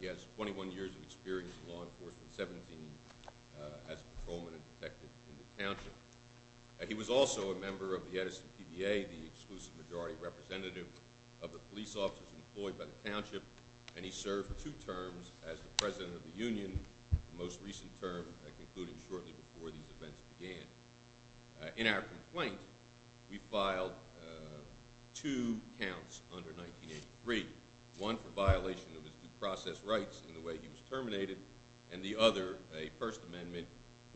He has 21 years of experience in law enforcement, 17 as a patrolman and a detective, and he He was also a member of the Edison PBA, the exclusive majority representative of the police officers employed by the township, and he served two terms as the president of the union, the most recent term concluding shortly before these events began. In our complaint, we filed two counts under 1983, one for violation of his due process rights in the way he was terminated, and the other, a First Amendment,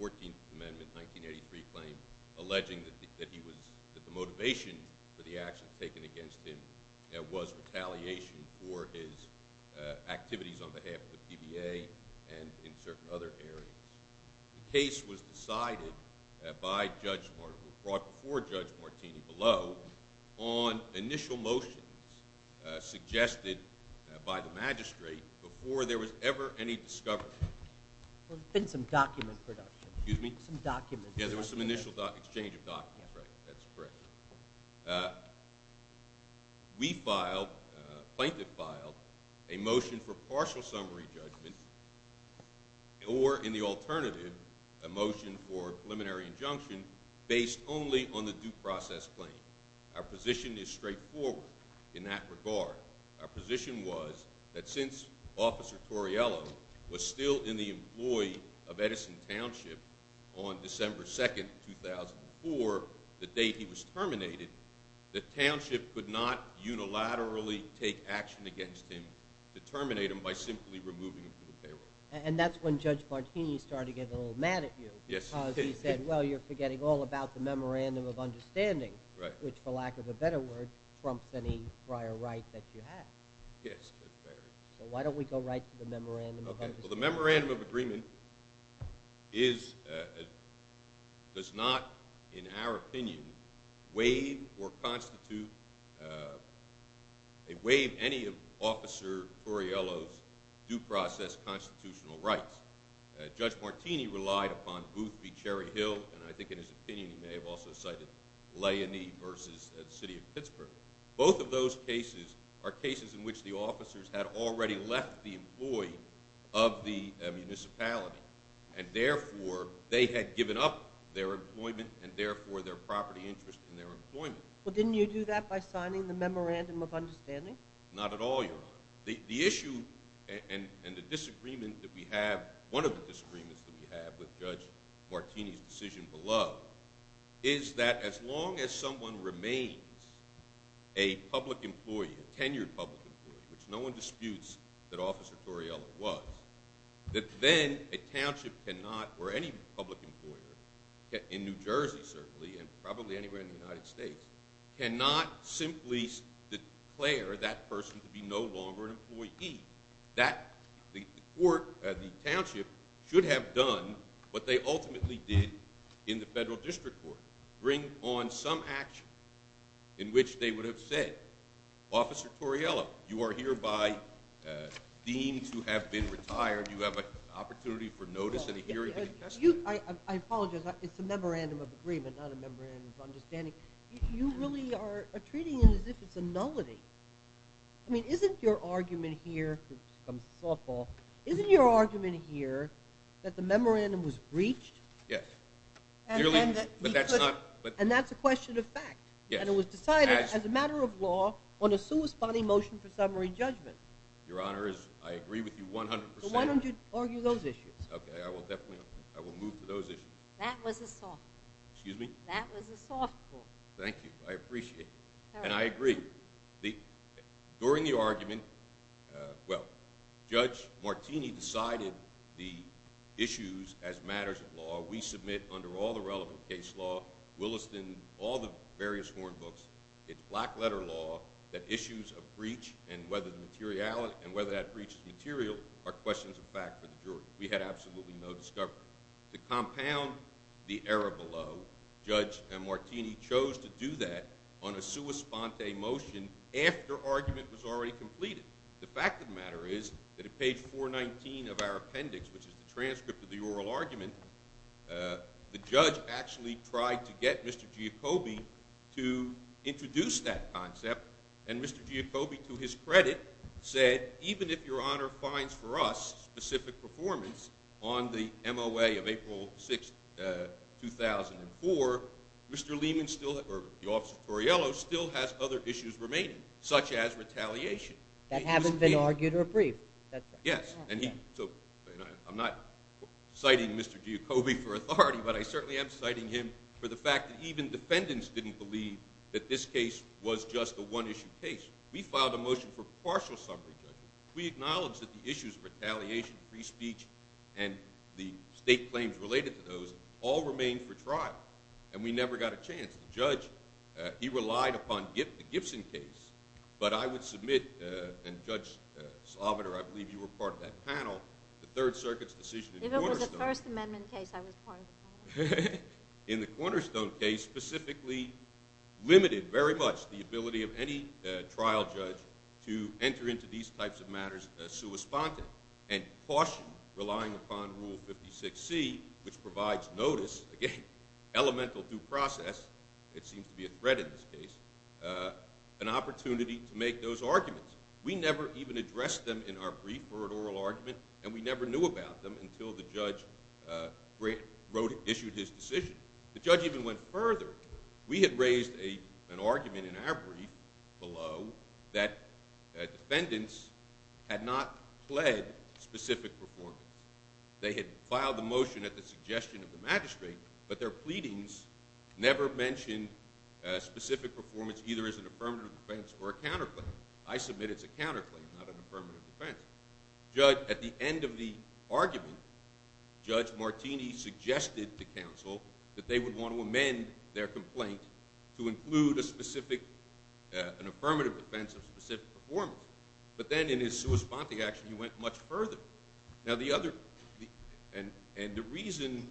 14th Amendment, 1983 claim alleging that the motivation for the actions taken against him was retaliation for his activities on behalf of the PBA and in certain other areas. The case was brought before Judge Martini below on initial motions suggested by the magistrate before there was ever any discovery. There had been some document production. Excuse me? Some documents. Yeah, there was some initial exchange of documents, right. That's correct. We filed, plaintiff filed, a motion for partial summary judgment or in the alternative, a motion for preliminary injunction based only on the due process claim. Our position is straightforward in that regard. Our position was that since Officer Torriello was still in the employ of Edison Township on December 2nd, 2004, the date he was terminated, the township could not unilaterally take action against him to terminate him by simply removing him from the payroll. And that's when Judge Martini started to get a little mad at you. Yes, he did. Because he said, well, you're forgetting all about the memorandum of understanding. Right. Which, for lack of a better word, trumps any prior right that you have. Yes. So why don't we go right to the memorandum of understanding? Well, the memorandum of agreement is, does not, in our opinion, waive or constitute, waive any of Officer Torriello's due process constitutional rights. Judge Martini relied upon Booth v. Cherry Hill, and I think in his opinion he may have also cited Leonie v. City of Pittsburgh. Both of those cases are cases in which the officers had already left the employ of the municipality, and therefore they had given up their employment and therefore their property interest in their employment. Well, didn't you do that by signing the memorandum of understanding? Not at all, Your Honor. The issue and the disagreement that we have, one of the disagreements that we have with Judge Martini's decision below, is that as long as someone remains a public employee, a tenured public employee, which no one disputes that Officer Torriello was, that then a township cannot, or any public employer, in New Jersey certainly and probably anywhere in the United States, cannot simply declare that person to be no longer an employee. The township should have done what they ultimately did in the federal district court, bring on some action in which they would have said, Officer Torriello, you are hereby deemed to have been retired. You have an opportunity for notice and a hearing and a testimony. I apologize. It's a memorandum of agreement, not a memorandum of understanding. You really are treating it as if it's a nullity. I mean, isn't your argument here, which becomes softball, isn't your argument here that the memorandum was breached? Yes. And that's a question of fact. Yes. And it was decided as a matter of law on a sui sponte motion for summary judgment. Your Honor, I agree with you 100%. Why don't you argue those issues? Okay, I will definitely. I will move to those issues. That was a softball. Excuse me? That was a softball. Thank you. I appreciate it. And I agree. During the argument, well, Judge Martini decided the issues as matters of law. We submit, under all the relevant case law, Williston, all the various horn books, it's black letter law, that issues of breach and whether that breach is material are questions of fact for the jury. We had absolutely no discovery. To compound the error below, Judge Martini chose to do that on a sui sponte motion after argument was already completed. The fact of the matter is that at page 419 of our appendix, which is the transcript of the oral argument, the judge actually tried to get Mr. Giacobbe to introduce that concept, and Mr. Giacobbe, to his credit, said, even if Your Honor finds for us specific performance on the MOA of April 6, 2004, Mr. Lehman still, or the Office of Torriello, still has other issues remaining, such as retaliation. That hasn't been argued or approved. Yes, and he, so I'm not citing Mr. Giacobbe for authority, but I certainly am citing him for the fact that even defendants didn't believe that this case was just a one-issue case. We filed a motion for partial summary judgment. We acknowledged that the issues of retaliation, free speech, and the state claims related to those all remained for trial, and we never got a chance. The judge, he relied upon the Gibson case, but I would submit, and Judge Salvatore, I believe you were part of that panel, the Third Circuit's decision in Cornerstone. If it was a First Amendment case, I was part of the panel. In the Cornerstone case, specifically limited very much the ability of any trial judge to enter into these types of matters sui sponte, and cautioned relying upon Rule 56C, which provides notice, again, elemental due process, it seems to be a threat in this case, an opportunity to make those arguments. We never even addressed them in our brief or an oral argument, and we never knew about them until the judge issued his decision. The judge even went further. We had raised an argument in our brief below that defendants had not pled specific performance. They had filed the motion at the suggestion of the magistrate, but their pleadings never mentioned specific performance either as an affirmative defense or a counterclaim. I submit it's a counterclaim, not an affirmative defense. At the end of the argument, Judge Martini suggested to counsel that they would want to amend their complaint to include an affirmative defense of specific performance. But then in his sui sponte action, he went much further. And the reason,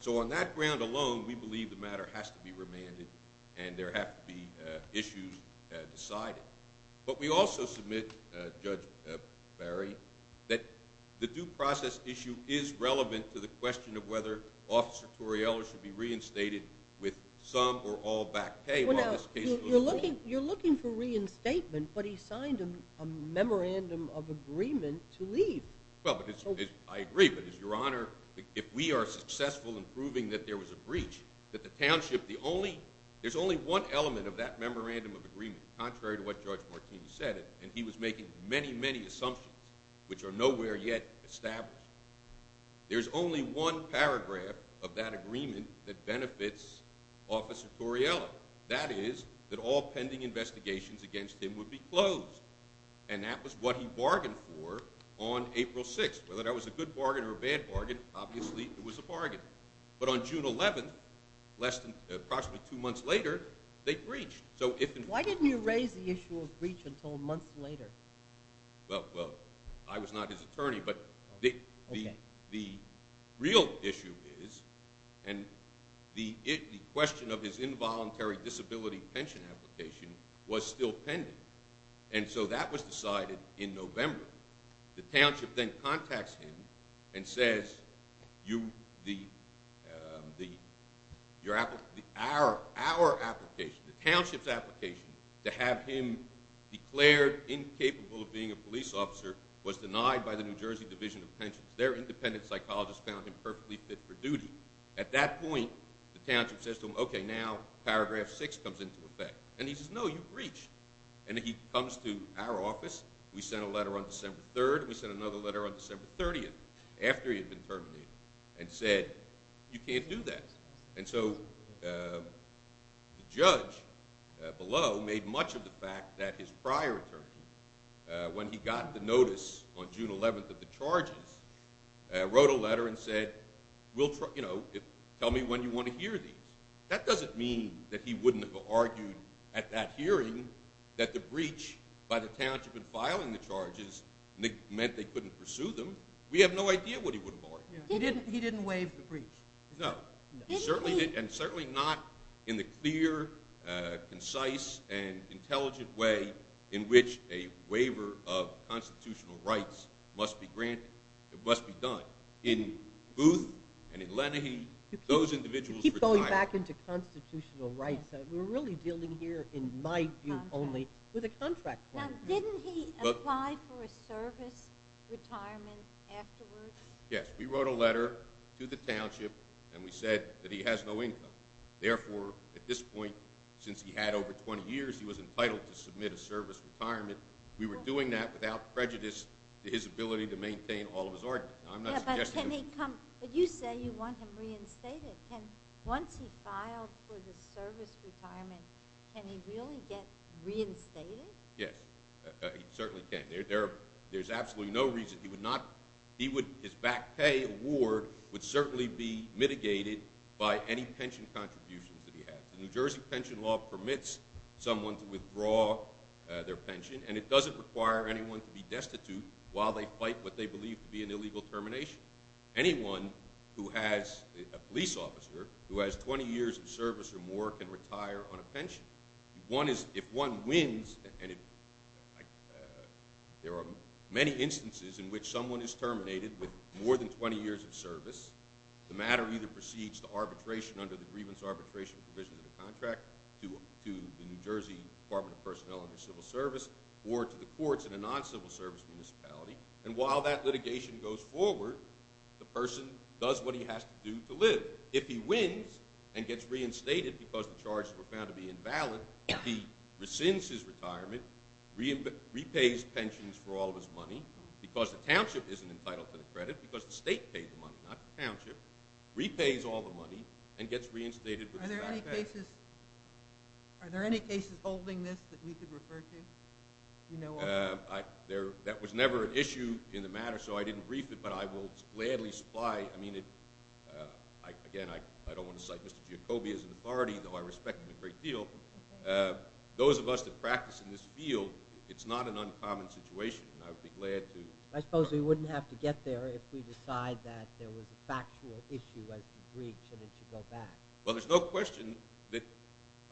so on that ground alone, we believe the matter has to be remanded and there have to be issues decided. But we also submit, Judge Barry, that the due process issue is relevant to the question of whether Officer Torriello should be reinstated with some or all back pay while this case goes on. You're looking for reinstatement, but he signed a memorandum of agreement to leave. Well, I agree, but, Your Honor, if we are successful in proving that there was a breach, that the township, there's only one element of that memorandum of agreement, contrary to what Judge Martini said, and he was making many, many assumptions, which are nowhere yet established. There's only one paragraph of that agreement that benefits Officer Torriello. That is that all pending investigations against him would be closed. And that was what he bargained for on April 6th. Whether that was a good bargain or a bad bargain, obviously it was a bargain. But on June 11th, approximately two months later, they breached. Why didn't you raise the issue of breach until months later? Well, I was not his attorney, but the real issue is, and the question of his involuntary disability pension application was still pending. And so that was decided in November. The township then contacts him and says, Our application, the township's application, to have him declared incapable of being a police officer was denied by the New Jersey Division of Pensions. Their independent psychologist found him perfectly fit for duty. At that point, the township says to him, Okay, now paragraph 6 comes into effect. And he says, No, you've breached. And he comes to our office. We sent a letter on December 3rd, and we sent another letter on December 30th, after he had been terminated, and said, You can't do that. And so the judge below made much of the fact that his prior attorney, when he got the notice on June 11th of the charges, wrote a letter and said, Tell me when you want to hear these. That doesn't mean that he wouldn't have argued at that hearing that the breach by the township in filing the charges meant they couldn't pursue them. We have no idea what he would have argued. He didn't waive the breach. No. And certainly not in the clear, concise, and intelligent way in which a waiver of constitutional rights must be granted. It must be done. In Booth and in Lenahee, those individuals retired. You keep going back into constitutional rights. We're really dealing here, in my view only, with a contract crime. Now, didn't he apply for a service retirement afterwards? Yes. We wrote a letter to the township, and we said that he has no income. Therefore, at this point, since he had over 20 years, he was entitled to submit a service retirement. We were doing that without prejudice to his ability to maintain all of his ordinance. But you say you want him reinstated. Once he filed for the service retirement, can he really get reinstated? Yes, he certainly can. There's absolutely no reason he would not. His back pay award would certainly be mitigated by any pension contributions that he has. The New Jersey pension law permits someone to withdraw their pension, and it doesn't require anyone to be destitute while they fight what they believe to be an illegal termination. Anyone who has a police officer who has 20 years of service or more can retire on a pension. If one wins, there are many instances in which someone is terminated with more than 20 years of service. The matter either proceeds to arbitration under the grievance arbitration provisions of the contract, to the New Jersey Department of Personnel under civil service, or to the courts in a non-civil service municipality. And while that litigation goes forward, the person does what he has to do to live. If he wins and gets reinstated because the charges were found to be invalid, he rescinds his retirement, repays pensions for all of his money, because the township isn't entitled to the credit because the state paid the money, not the township, repays all the money, and gets reinstated with his back pay. Are there any cases holding this that we could refer to? That was never an issue in the matter, so I didn't brief it, but I will gladly supply. I mean, again, I don't want to cite Mr. Giacobbe as an authority, though I respect him a great deal. Those of us that practice in this field, it's not an uncommon situation, and I would be glad to. I suppose we wouldn't have to get there if we decide that there was a factual issue as to breach and it should go back. Well, there's no question that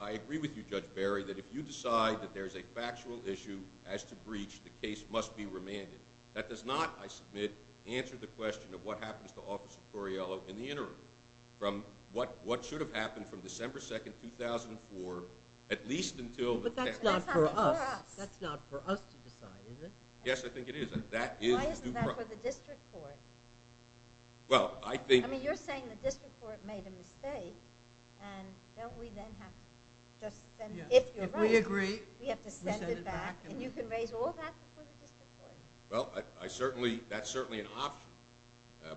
I agree with you, Judge Barry, that if you decide that there is a factual issue as to breach, the case must be remanded. That does not, I submit, answer the question of what happens to Officer Torriello in the interim, from what should have happened from December 2nd, 2004, at least until – But that's not for us. That's not for us to decide, is it? Yes, I think it is. That is due process. Why isn't that for the district court? Well, I think – I mean, you're saying the district court made a mistake, and don't we then have to just – If we agree, we send it back. And you can raise all that before the district court? Well, I certainly – that's certainly an option,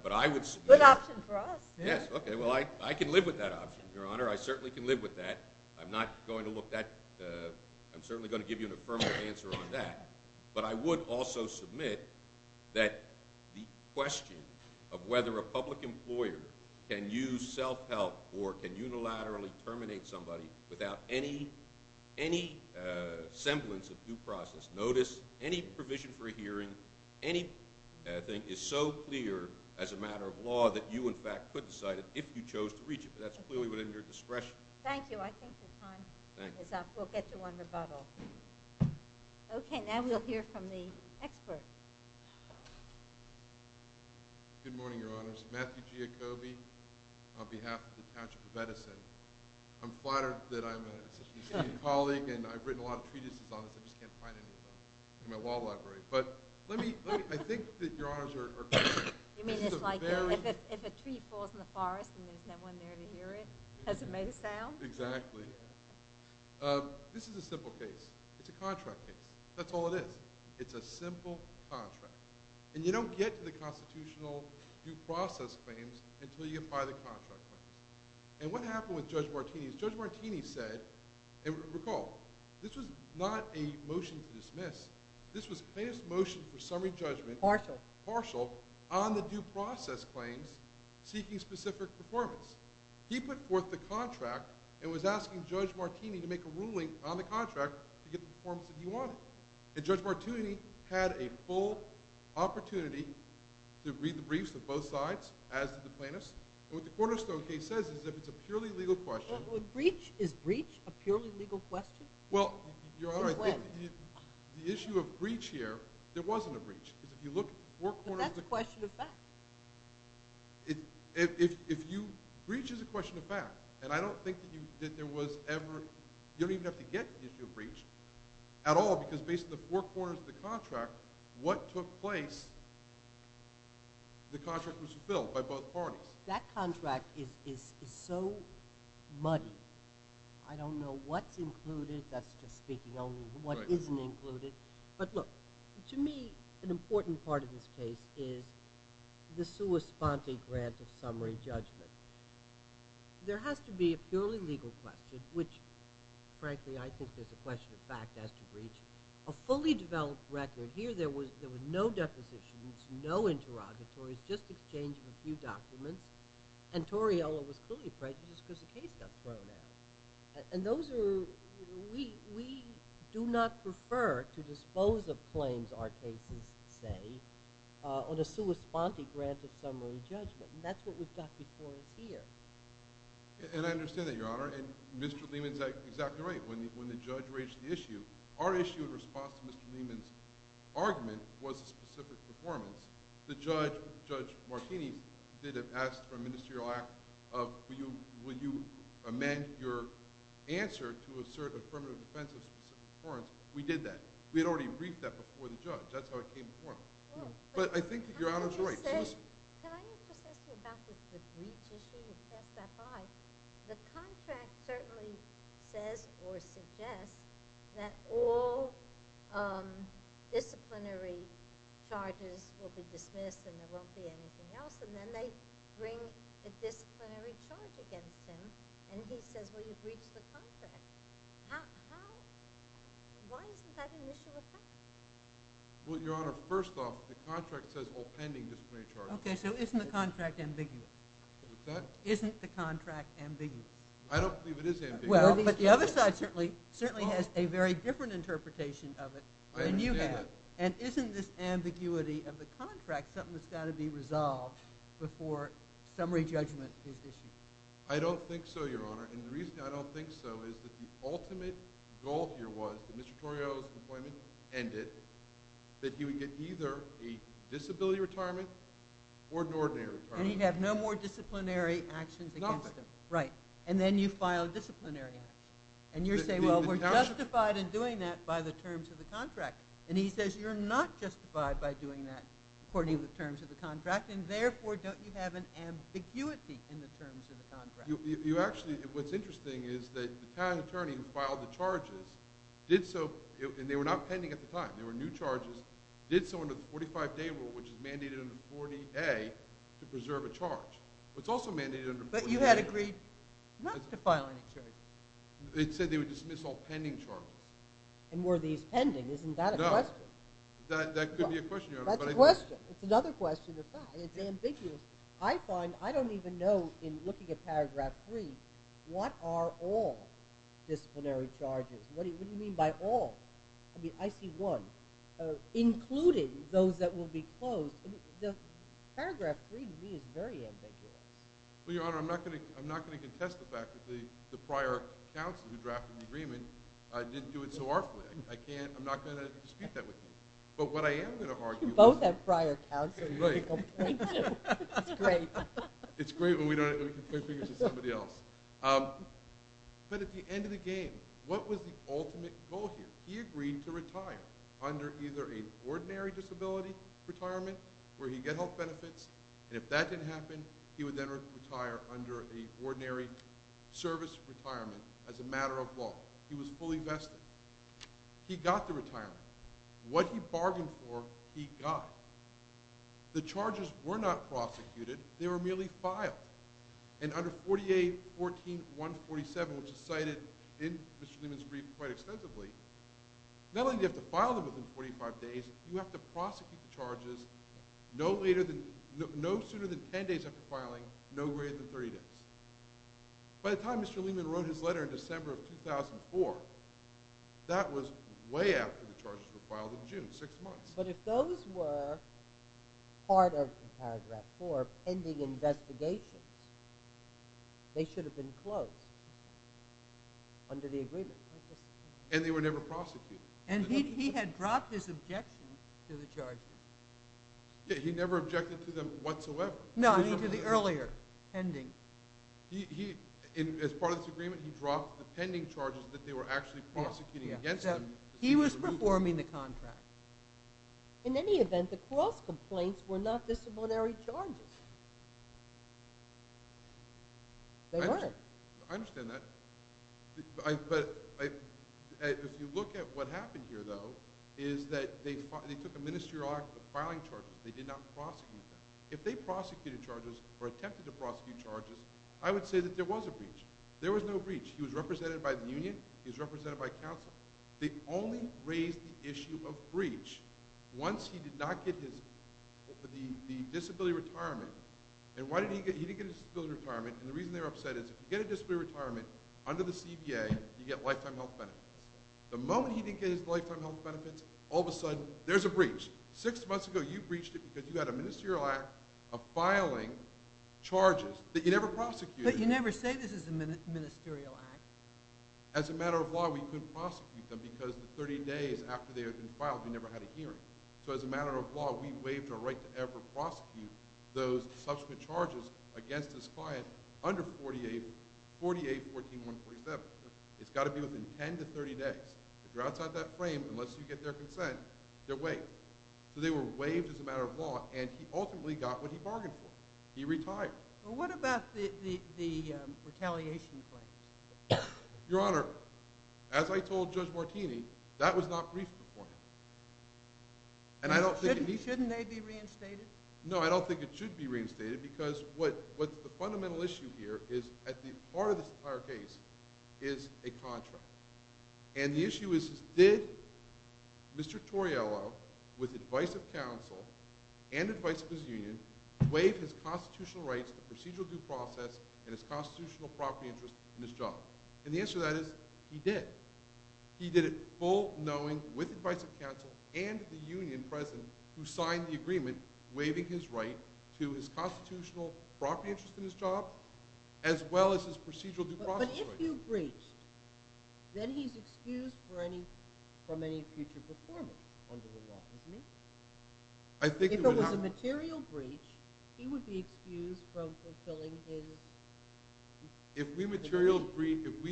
but I would submit – Good option for us. Yes, okay. Well, I can live with that option, Your Honor. I certainly can live with that. I'm not going to look at – I'm certainly going to give you an affirmative answer on that. But I would also submit that the question of whether a public employer can use self-help or can unilaterally terminate somebody without any semblance of due process, notice, any provision for a hearing, anything is so clear as a matter of law that you, in fact, could decide it if you chose to reach it. But that's clearly within your discretion. Thank you. I think your time is up. We'll get you on rebuttal. Okay, now we'll hear from the expert. Good morning, Your Honors. Matthew Giacobbe on behalf of the College of Medicine. I'm flattered that I'm an associate colleague, and I've written a lot of treatises on this. I just can't find any of them in my wall library. But let me – I think that Your Honors are correct. You mean it's like if a tree falls in the forest and there's no one there to hear it, as it may sound? Exactly. This is a simple case. It's a contract case. That's all it is. It's a simple contract, and you don't get to the constitutional due process claims until you apply the contract claims. And what happened with Judge Martini is Judge Martini said – and recall, this was not a motion to dismiss. This was plaintiff's motion for summary judgment. Partial. Partial. On the due process claims seeking specific performance. He put forth the contract and was asking Judge Martini to make a ruling on the contract to get the performance that he wanted. And Judge Martini had a full opportunity to read the briefs of both sides, as did the plaintiffs. And what the Cornerstone case says is if it's a purely legal question – Is breach a purely legal question? Well, Your Honor, the issue of breach here, there wasn't a breach. Because if you look four corners of the – But that's a question of fact. Breach is a question of fact. And I don't think that there was ever – You don't even have to get the issue of breach at all because based on the four corners of the contract, what took place, the contract was fulfilled by both parties. That contract is so muddy. I don't know what's included. That's just speaking only of what isn't included. But look, to me, an important part of this case is the sua sponte grant of summary judgment. There has to be a purely legal question, which, frankly, I think there's a question of fact as to breach, a fully developed record. Here there were no depositions, no interrogatories, just exchange of a few documents. And Torriello was clearly prejudiced because the case got thrown out. And those are – We do not prefer to dispose of claims, our cases say, on a sua sponte grant of summary judgment. And that's what we've got before us here. And I understand that, Your Honor. And Mr. Lehman's exactly right. When the judge raised the issue, our issue in response to Mr. Lehman's argument was a specific performance. The judge, Judge Martini, did ask for a ministerial act of, will you amend your answer to assert affirmative defense of a specific performance. We did that. We had already briefed that before the judge. That's how it came before him. But I think that Your Honor's right. Can I just ask you about the breach issue? You've passed that by. The contract certainly says or suggests that all disciplinary charges will be dismissed and there won't be anything else. And then they bring a disciplinary charge against him, and he says, well, you've breached the contract. Why isn't that an issue of fact? Well, Your Honor, first off, the contract says all pending disciplinary charges. Okay, so isn't the contract ambiguous? What's that? Isn't the contract ambiguous? I don't believe it is ambiguous. Well, but the other side certainly has a very different interpretation of it than you have. I understand that. And isn't this ambiguity of the contract something that's got to be resolved before summary judgment is issued? I don't think so, Your Honor. And the reason I don't think so is that the ultimate goal here was that when Mr. Torrio's employment ended, that he would get either a disability retirement or an ordinary retirement. And he'd have no more disciplinary actions against him. Right. And then you file a disciplinary action. And you're saying, well, we're justified in doing that by the terms of the contract. And he says you're not justified by doing that according to the terms of the contract, and therefore don't you have an ambiguity in the terms of the contract? What's interesting is that the Italian attorney who filed the charges did so and they were not pending at the time. They were new charges. Did so under the 45-day rule, which is mandated under 40A to preserve a charge. It's also mandated under 40A. But you had agreed not to file any charges. It said they would dismiss all pending charges. And were these pending? Isn't that a question? No. That could be a question, Your Honor. That's a question. It's another question of fact. It's ambiguous. I find I don't even know, in looking at Paragraph 3, what are all disciplinary charges. What do you mean by all? I mean, I see one. Including those that will be closed. Paragraph 3 to me is very ambiguous. Well, Your Honor, I'm not going to contest the fact that the prior counsel who drafted the agreement didn't do it so awfully. I'm not going to dispute that with you. But what I am going to argue is— You don't have prior counsel to complain to. It's great. It's great when we can point fingers at somebody else. But at the end of the game, what was the ultimate goal here? He agreed to retire under either an ordinary disability retirement where he'd get health benefits. And if that didn't happen, he would then retire under an ordinary service retirement as a matter of law. He was fully vested. He got the retirement. What he bargained for, he got. The charges were not prosecuted. They were merely filed. And under 48-14-147, which is cited in Mr. Lehman's brief quite extensively, not only do you have to file them within 45 days, you have to prosecute the charges no sooner than 10 days after filing, no greater than 30 days. By the time Mr. Lehman wrote his letter in December of 2004, that was way after the charges were filed in June, six months. But if those were part of paragraph 4, pending investigations, they should have been closed under the agreement. And they were never prosecuted. And he had dropped his objection to the charges. Yeah, he never objected to them whatsoever. No, I mean to the earlier pending. As part of this agreement, he dropped the pending charges that they were actually prosecuting against him. He was performing the contract. In any event, the cross complaints were not disciplinary charges. They were. I understand that. But if you look at what happened here, though, is that they took a ministerial act of filing charges. They did not prosecute them. If they prosecuted charges or attempted to prosecute charges, I would say that there was a breach. There was no breach. He was represented by the union. He was represented by counsel. They only raised the issue of breach once he did not get the disability retirement. And he didn't get his disability retirement. And the reason they were upset is if you get a disability retirement under the CBA, you get lifetime health benefits. The moment he didn't get his lifetime health benefits, all of a sudden, there's a breach. Six months ago, you breached it because you had a ministerial act of filing charges that you never prosecuted. But you never say this is a ministerial act. As a matter of law, we couldn't prosecute them because the 30 days after they had been filed, we never had a hearing. So as a matter of law, we waived our right to ever prosecute those subsequent charges against this client under 48-14-147. It's got to be within 10 to 30 days. If you're outside that frame, unless you get their consent, they're waived. So they were waived as a matter of law, and he ultimately got what he bargained for. He retired. Well, what about the retaliation claims? Your Honor, as I told Judge Martini, that was not briefed beforehand. And I don't think it needs to be. Shouldn't they be reinstated? No, I don't think it should be reinstated because what's the fundamental issue here is at the heart of this entire case is a contract. And the issue is did Mr. Toriello, with advice of counsel and advice of his union, waive his constitutional rights, the procedural due process, and his constitutional property interest in his job? And the answer to that is he did. He did it full-knowing, with advice of counsel and the union present who signed the agreement waiving his right to his constitutional property interest in his job as well as his procedural due process rights. But if you breached, then he's excused from any future performance under the law, isn't he? If it was a material breach, he would be excused from fulfilling his… If we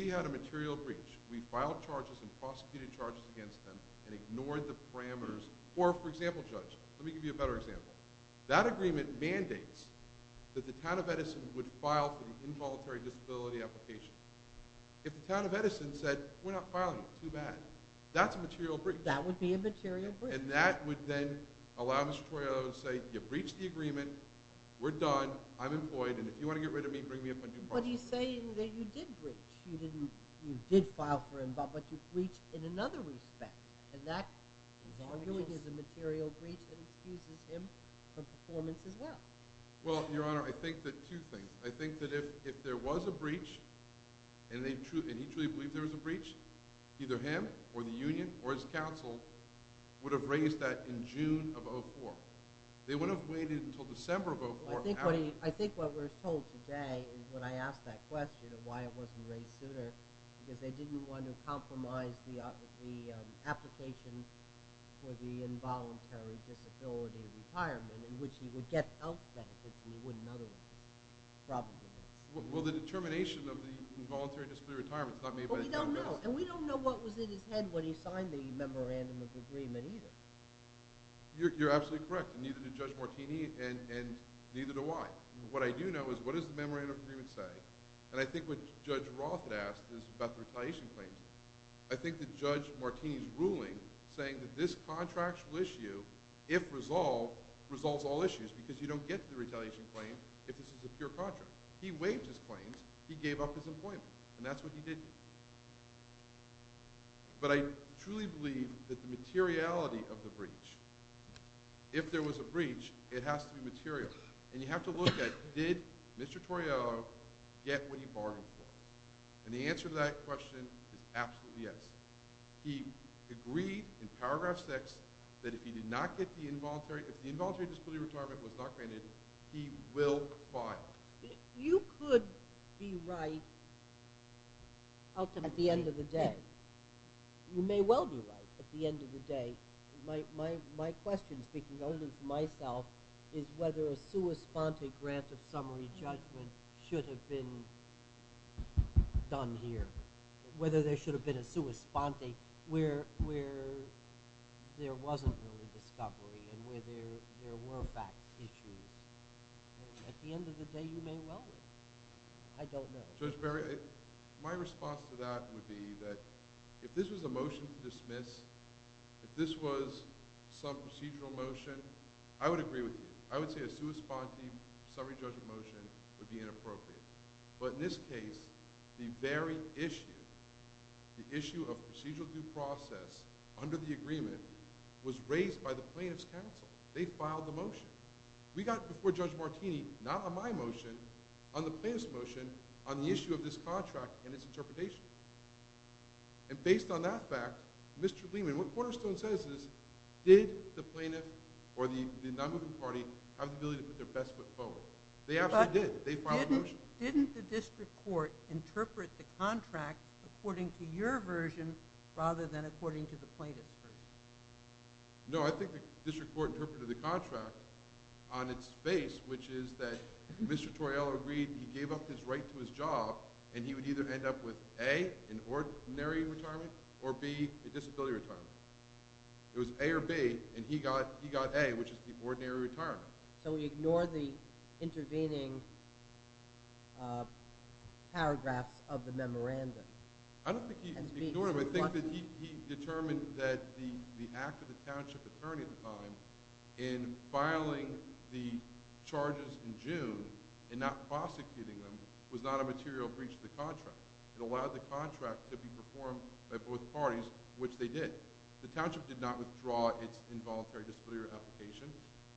had a material breach, we filed charges and prosecuted charges against them and ignored the parameters. Or, for example, Judge, let me give you a better example. That agreement mandates that the town of Edison would file for the involuntary disability application. If the town of Edison said, we're not filing it, too bad, that's a material breach. That would be a material breach. And that would then allow Mr. Toriello to say, you breached the agreement, we're done, I'm employed, and if you want to get rid of me, bring me up on due process. But he's saying that you did breach. You did file for him, but you breached in another respect. And that, he's arguing, is a material breach that excuses him from performance as well. Well, Your Honor, I think that two things. I think that if there was a breach, and he truly believed there was a breach, either him or the union or his counsel would have raised that in June of 2004. They wouldn't have waited until December of 2004. I think what we're told today is when I asked that question of why it wasn't raised sooner, because they didn't want to compromise the application for the involuntary disability retirement, in which he would get health benefits and he wouldn't otherwise, probably. Well, the determination of the involuntary disability retirement is not made by the town of Edison. Well, we don't know. And we don't know what was in his head when he signed the memorandum of agreement either. You're absolutely correct. And neither did Judge Martini, and neither do I. What I do know is what does the memorandum of agreement say? And I think what Judge Roth had asked is about the retaliation claims. I think that Judge Martini's ruling saying that this contractual issue, if resolved, resolves all issues, because you don't get the retaliation claim if this is a pure contract. He waived his claims. He gave up his employment. And that's what he did. But I truly believe that the materiality of the breach, if there was a breach, it has to be material. And you have to look at, did Mr. Toriello get what he bargained for? And the answer to that question is absolutely yes. He agreed in paragraph 6 that if the involuntary disability retirement was not granted, he will file. You could be right at the end of the day. You may well be right at the end of the day. My question, speaking only for myself, is whether a sua sponte grant of summary judgment should have been done here, whether there should have been a sua sponte where there wasn't really discovery and where there were fact issues. At the end of the day, you may well be. I don't know. Judge Berry, my response to that would be that if this was a motion to dismiss, if this was some procedural motion, I would agree with you. I would say a sua sponte summary judgment motion would be inappropriate. But in this case, the very issue, the issue of procedural due process under the agreement was raised by the plaintiff's counsel. They filed the motion. We got it before Judge Martini, not on my motion, on the plaintiff's motion, on the issue of this contract and its interpretation. And based on that fact, Mr. Lehman, what Cornerstone says is, did the plaintiff or the non-moving party have the ability to put their best foot forward? They absolutely did. They filed the motion. But didn't the district court interpret the contract according to your version rather than according to the plaintiff's version? No, I think the district court interpreted the contract on its face, which is that Mr. Toriello agreed he gave up his right to his job and he would either end up with A, an ordinary retirement, or B, a disability retirement. It was A or B, and he got A, which is the ordinary retirement. So we ignore the intervening paragraphs of the memorandum? I don't think he ignored them. I think that he determined that the act of the township attorney at the time in filing the charges in June and not prosecuting them was not a material breach of the contract. It allowed the contract to be performed by both parties, which they did. The township did not withdraw its involuntary disability application.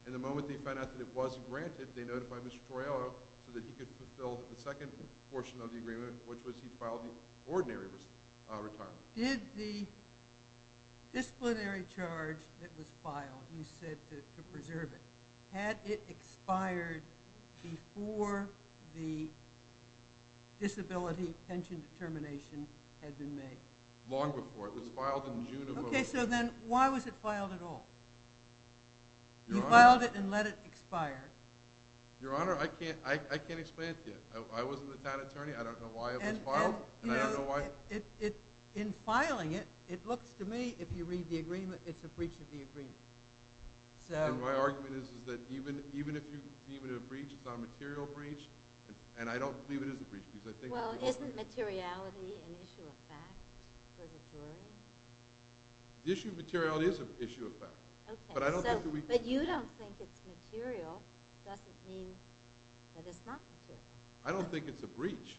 And the moment they found out that it was granted, they notified Mr. Toriello so that he could fulfill the second portion of the agreement, which was he filed the ordinary retirement. Did the disciplinary charge that was filed, you said to preserve it, had it expired before the disability pension determination had been made? Long before. It was filed in June of… Okay, so then why was it filed at all? You filed it and let it expire. Your Honor, I can't explain it to you. I wasn't the town attorney. I don't know why it was filed, and I don't know why. In filing it, it looks to me, if you read the agreement, it's a breach of the agreement. And my argument is that even if you deem it a breach, it's not a material breach, and I don't believe it is a breach. Well, isn't materiality an issue of fact for the jury? The issue of materiality is an issue of fact. But you don't think it's material. It doesn't mean that it's not material. I don't think it's a breach.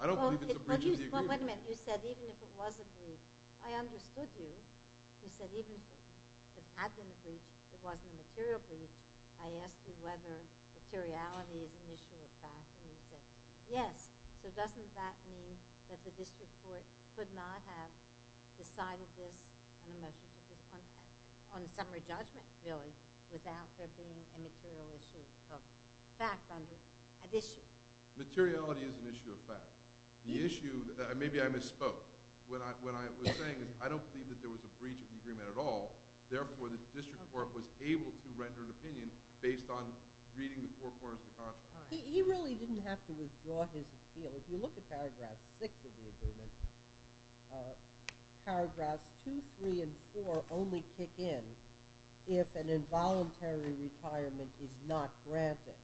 I don't believe it's a breach of the agreement. Wait a minute. You said even if it was a breach. I understood you. You said even if it had been a breach, it wasn't a material breach. I asked you whether materiality is an issue of fact, and you said yes. So doesn't that mean that the district court could not have decided this on a motion to discontract, on a summary judgment, really, without there being a material issue of fact under an issue? Materiality is an issue of fact. The issue, maybe I misspoke. What I was saying is I don't believe that there was a breach of the agreement at all. Therefore, the district court was able to render an opinion based on reading the four quarters of the contract. He really didn't have to withdraw his appeal. If you look at paragraphs six of the agreement, paragraphs two, three, and four only kick in if an involuntary retirement is not granted.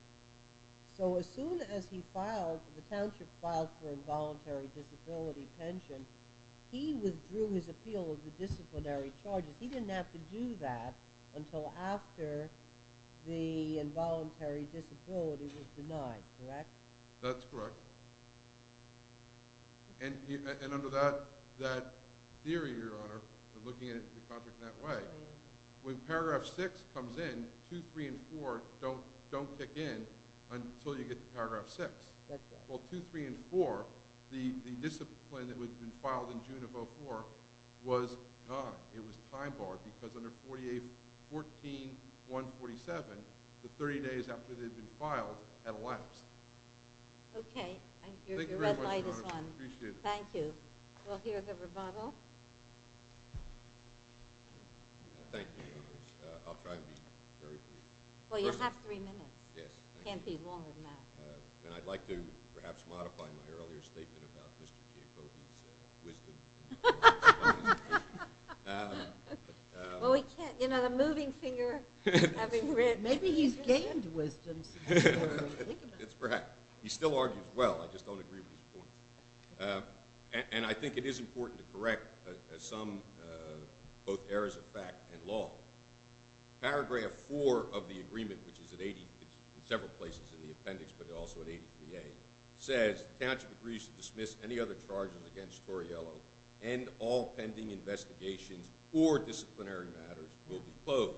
So as soon as the township filed for involuntary disability pension, he withdrew his appeal of the disciplinary charges. He didn't have to do that until after the involuntary disability was denied, correct? That's correct. And under that theory, Your Honor, looking at the contract in that way, when paragraph six comes in, two, three, and four don't kick in until you get to paragraph six. That's right. Well, two, three, and four, the discipline that had been filed in June of 2004 was not. It was time barred because under 14147, the 30 days after they'd been filed had elapsed. Okay. Thank you. Your red light is on. Thank you. We'll hear the rebuttal. Thank you, Your Honor. I'll try to be very brief. Well, you have three minutes. Yes. It can't be longer than that. And I'd like to perhaps modify my earlier statement about Mr. Giacobbi's wisdom. Well, we can't. You know, the moving finger. Maybe he's gained wisdom. He still argues well. I just don't agree with his points. And I think it is important to correct some both errors of fact and law. Paragraph four of the agreement, which is in several places in the appendix, but also in ADPA, says the county agrees to dismiss any other charges against Torriello and all pending investigations or disciplinary matters will be closed.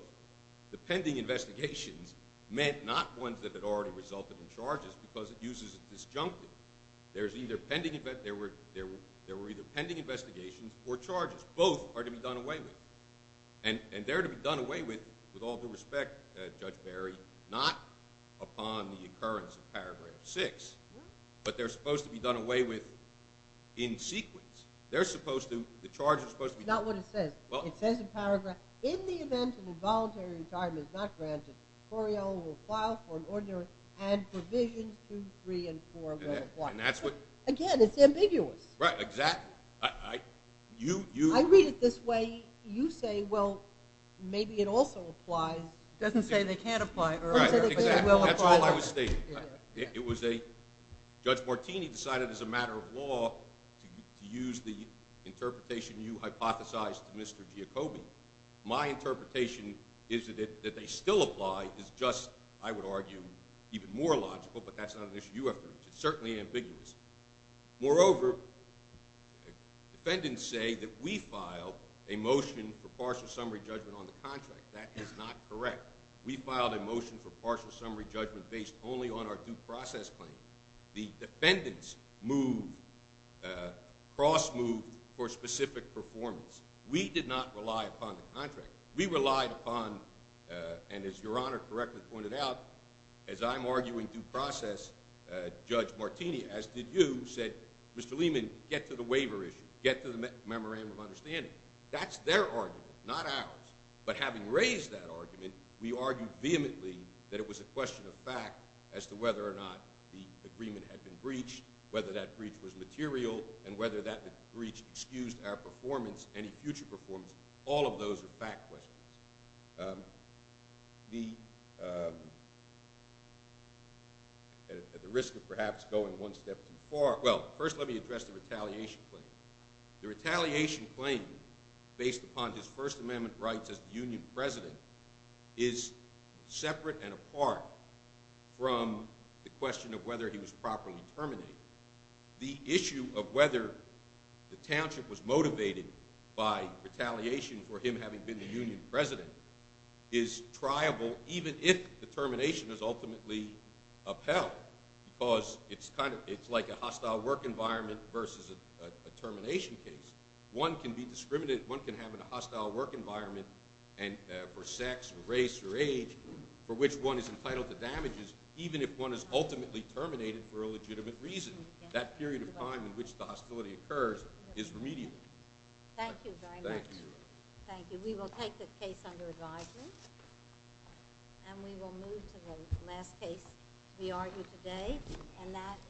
The pending investigations meant not ones that had already resulted in charges because it uses a disjunctive. There were either pending investigations or charges. Both are to be done away with. And they're to be done away with, with all due respect, Judge Barry, not upon the occurrence of paragraph six. But they're supposed to be done away with in sequence. They're supposed to, the charges are supposed to be done away with. It's not what it says. It says in paragraph, in the event an involuntary retirement is not granted, Torriello will file for an order and provisions two, three, and four will apply. Again, it's ambiguous. Right. Exactly. I read it this way. You say, well, maybe it also applies. It doesn't say they can't apply. Right. Exactly. That's all I was stating. It was a, Judge Martini decided as a matter of law to use the interpretation you hypothesized to Mr. Giacobbe. My interpretation is that they still apply. It's just, I would argue, even more logical. But that's not an issue you have to reach. It's certainly ambiguous. Moreover, defendants say that we filed a motion for partial summary judgment on the contract. That is not correct. We filed a motion for partial summary judgment based only on our due process claim. The defendants moved, cross-moved for specific performance. We did not rely upon the contract. We relied upon, and as Your Honor correctly pointed out, as I'm arguing due process, Judge Martini, as did you, said, Mr. Lehman, get to the waiver issue. Get to the memorandum of understanding. That's their argument, not ours. But having raised that argument, we argued vehemently that it was a question of fact as to whether or not the agreement had been breached, whether that breach was material, and whether that breach excused our performance, any future performance. All of those are fact questions. At the risk of perhaps going one step too far, well, first let me address the retaliation claim. The retaliation claim, based upon his First Amendment rights as the union president, is separate and apart from the question of whether he was properly terminated. The issue of whether the township was motivated by retaliation for him having been the union president is triable even if the termination is ultimately upheld because it's like a hostile work environment versus a termination case. One can be discriminated, one can have a hostile work environment for sex or race or age for which one is entitled to damages even if one is ultimately terminated for a legitimate reason. That period of time in which the hostility occurs is remedial. Thank you very much. Thank you. Thank you. We will take the case under advisement, and we will move to the last case we argue today, and that is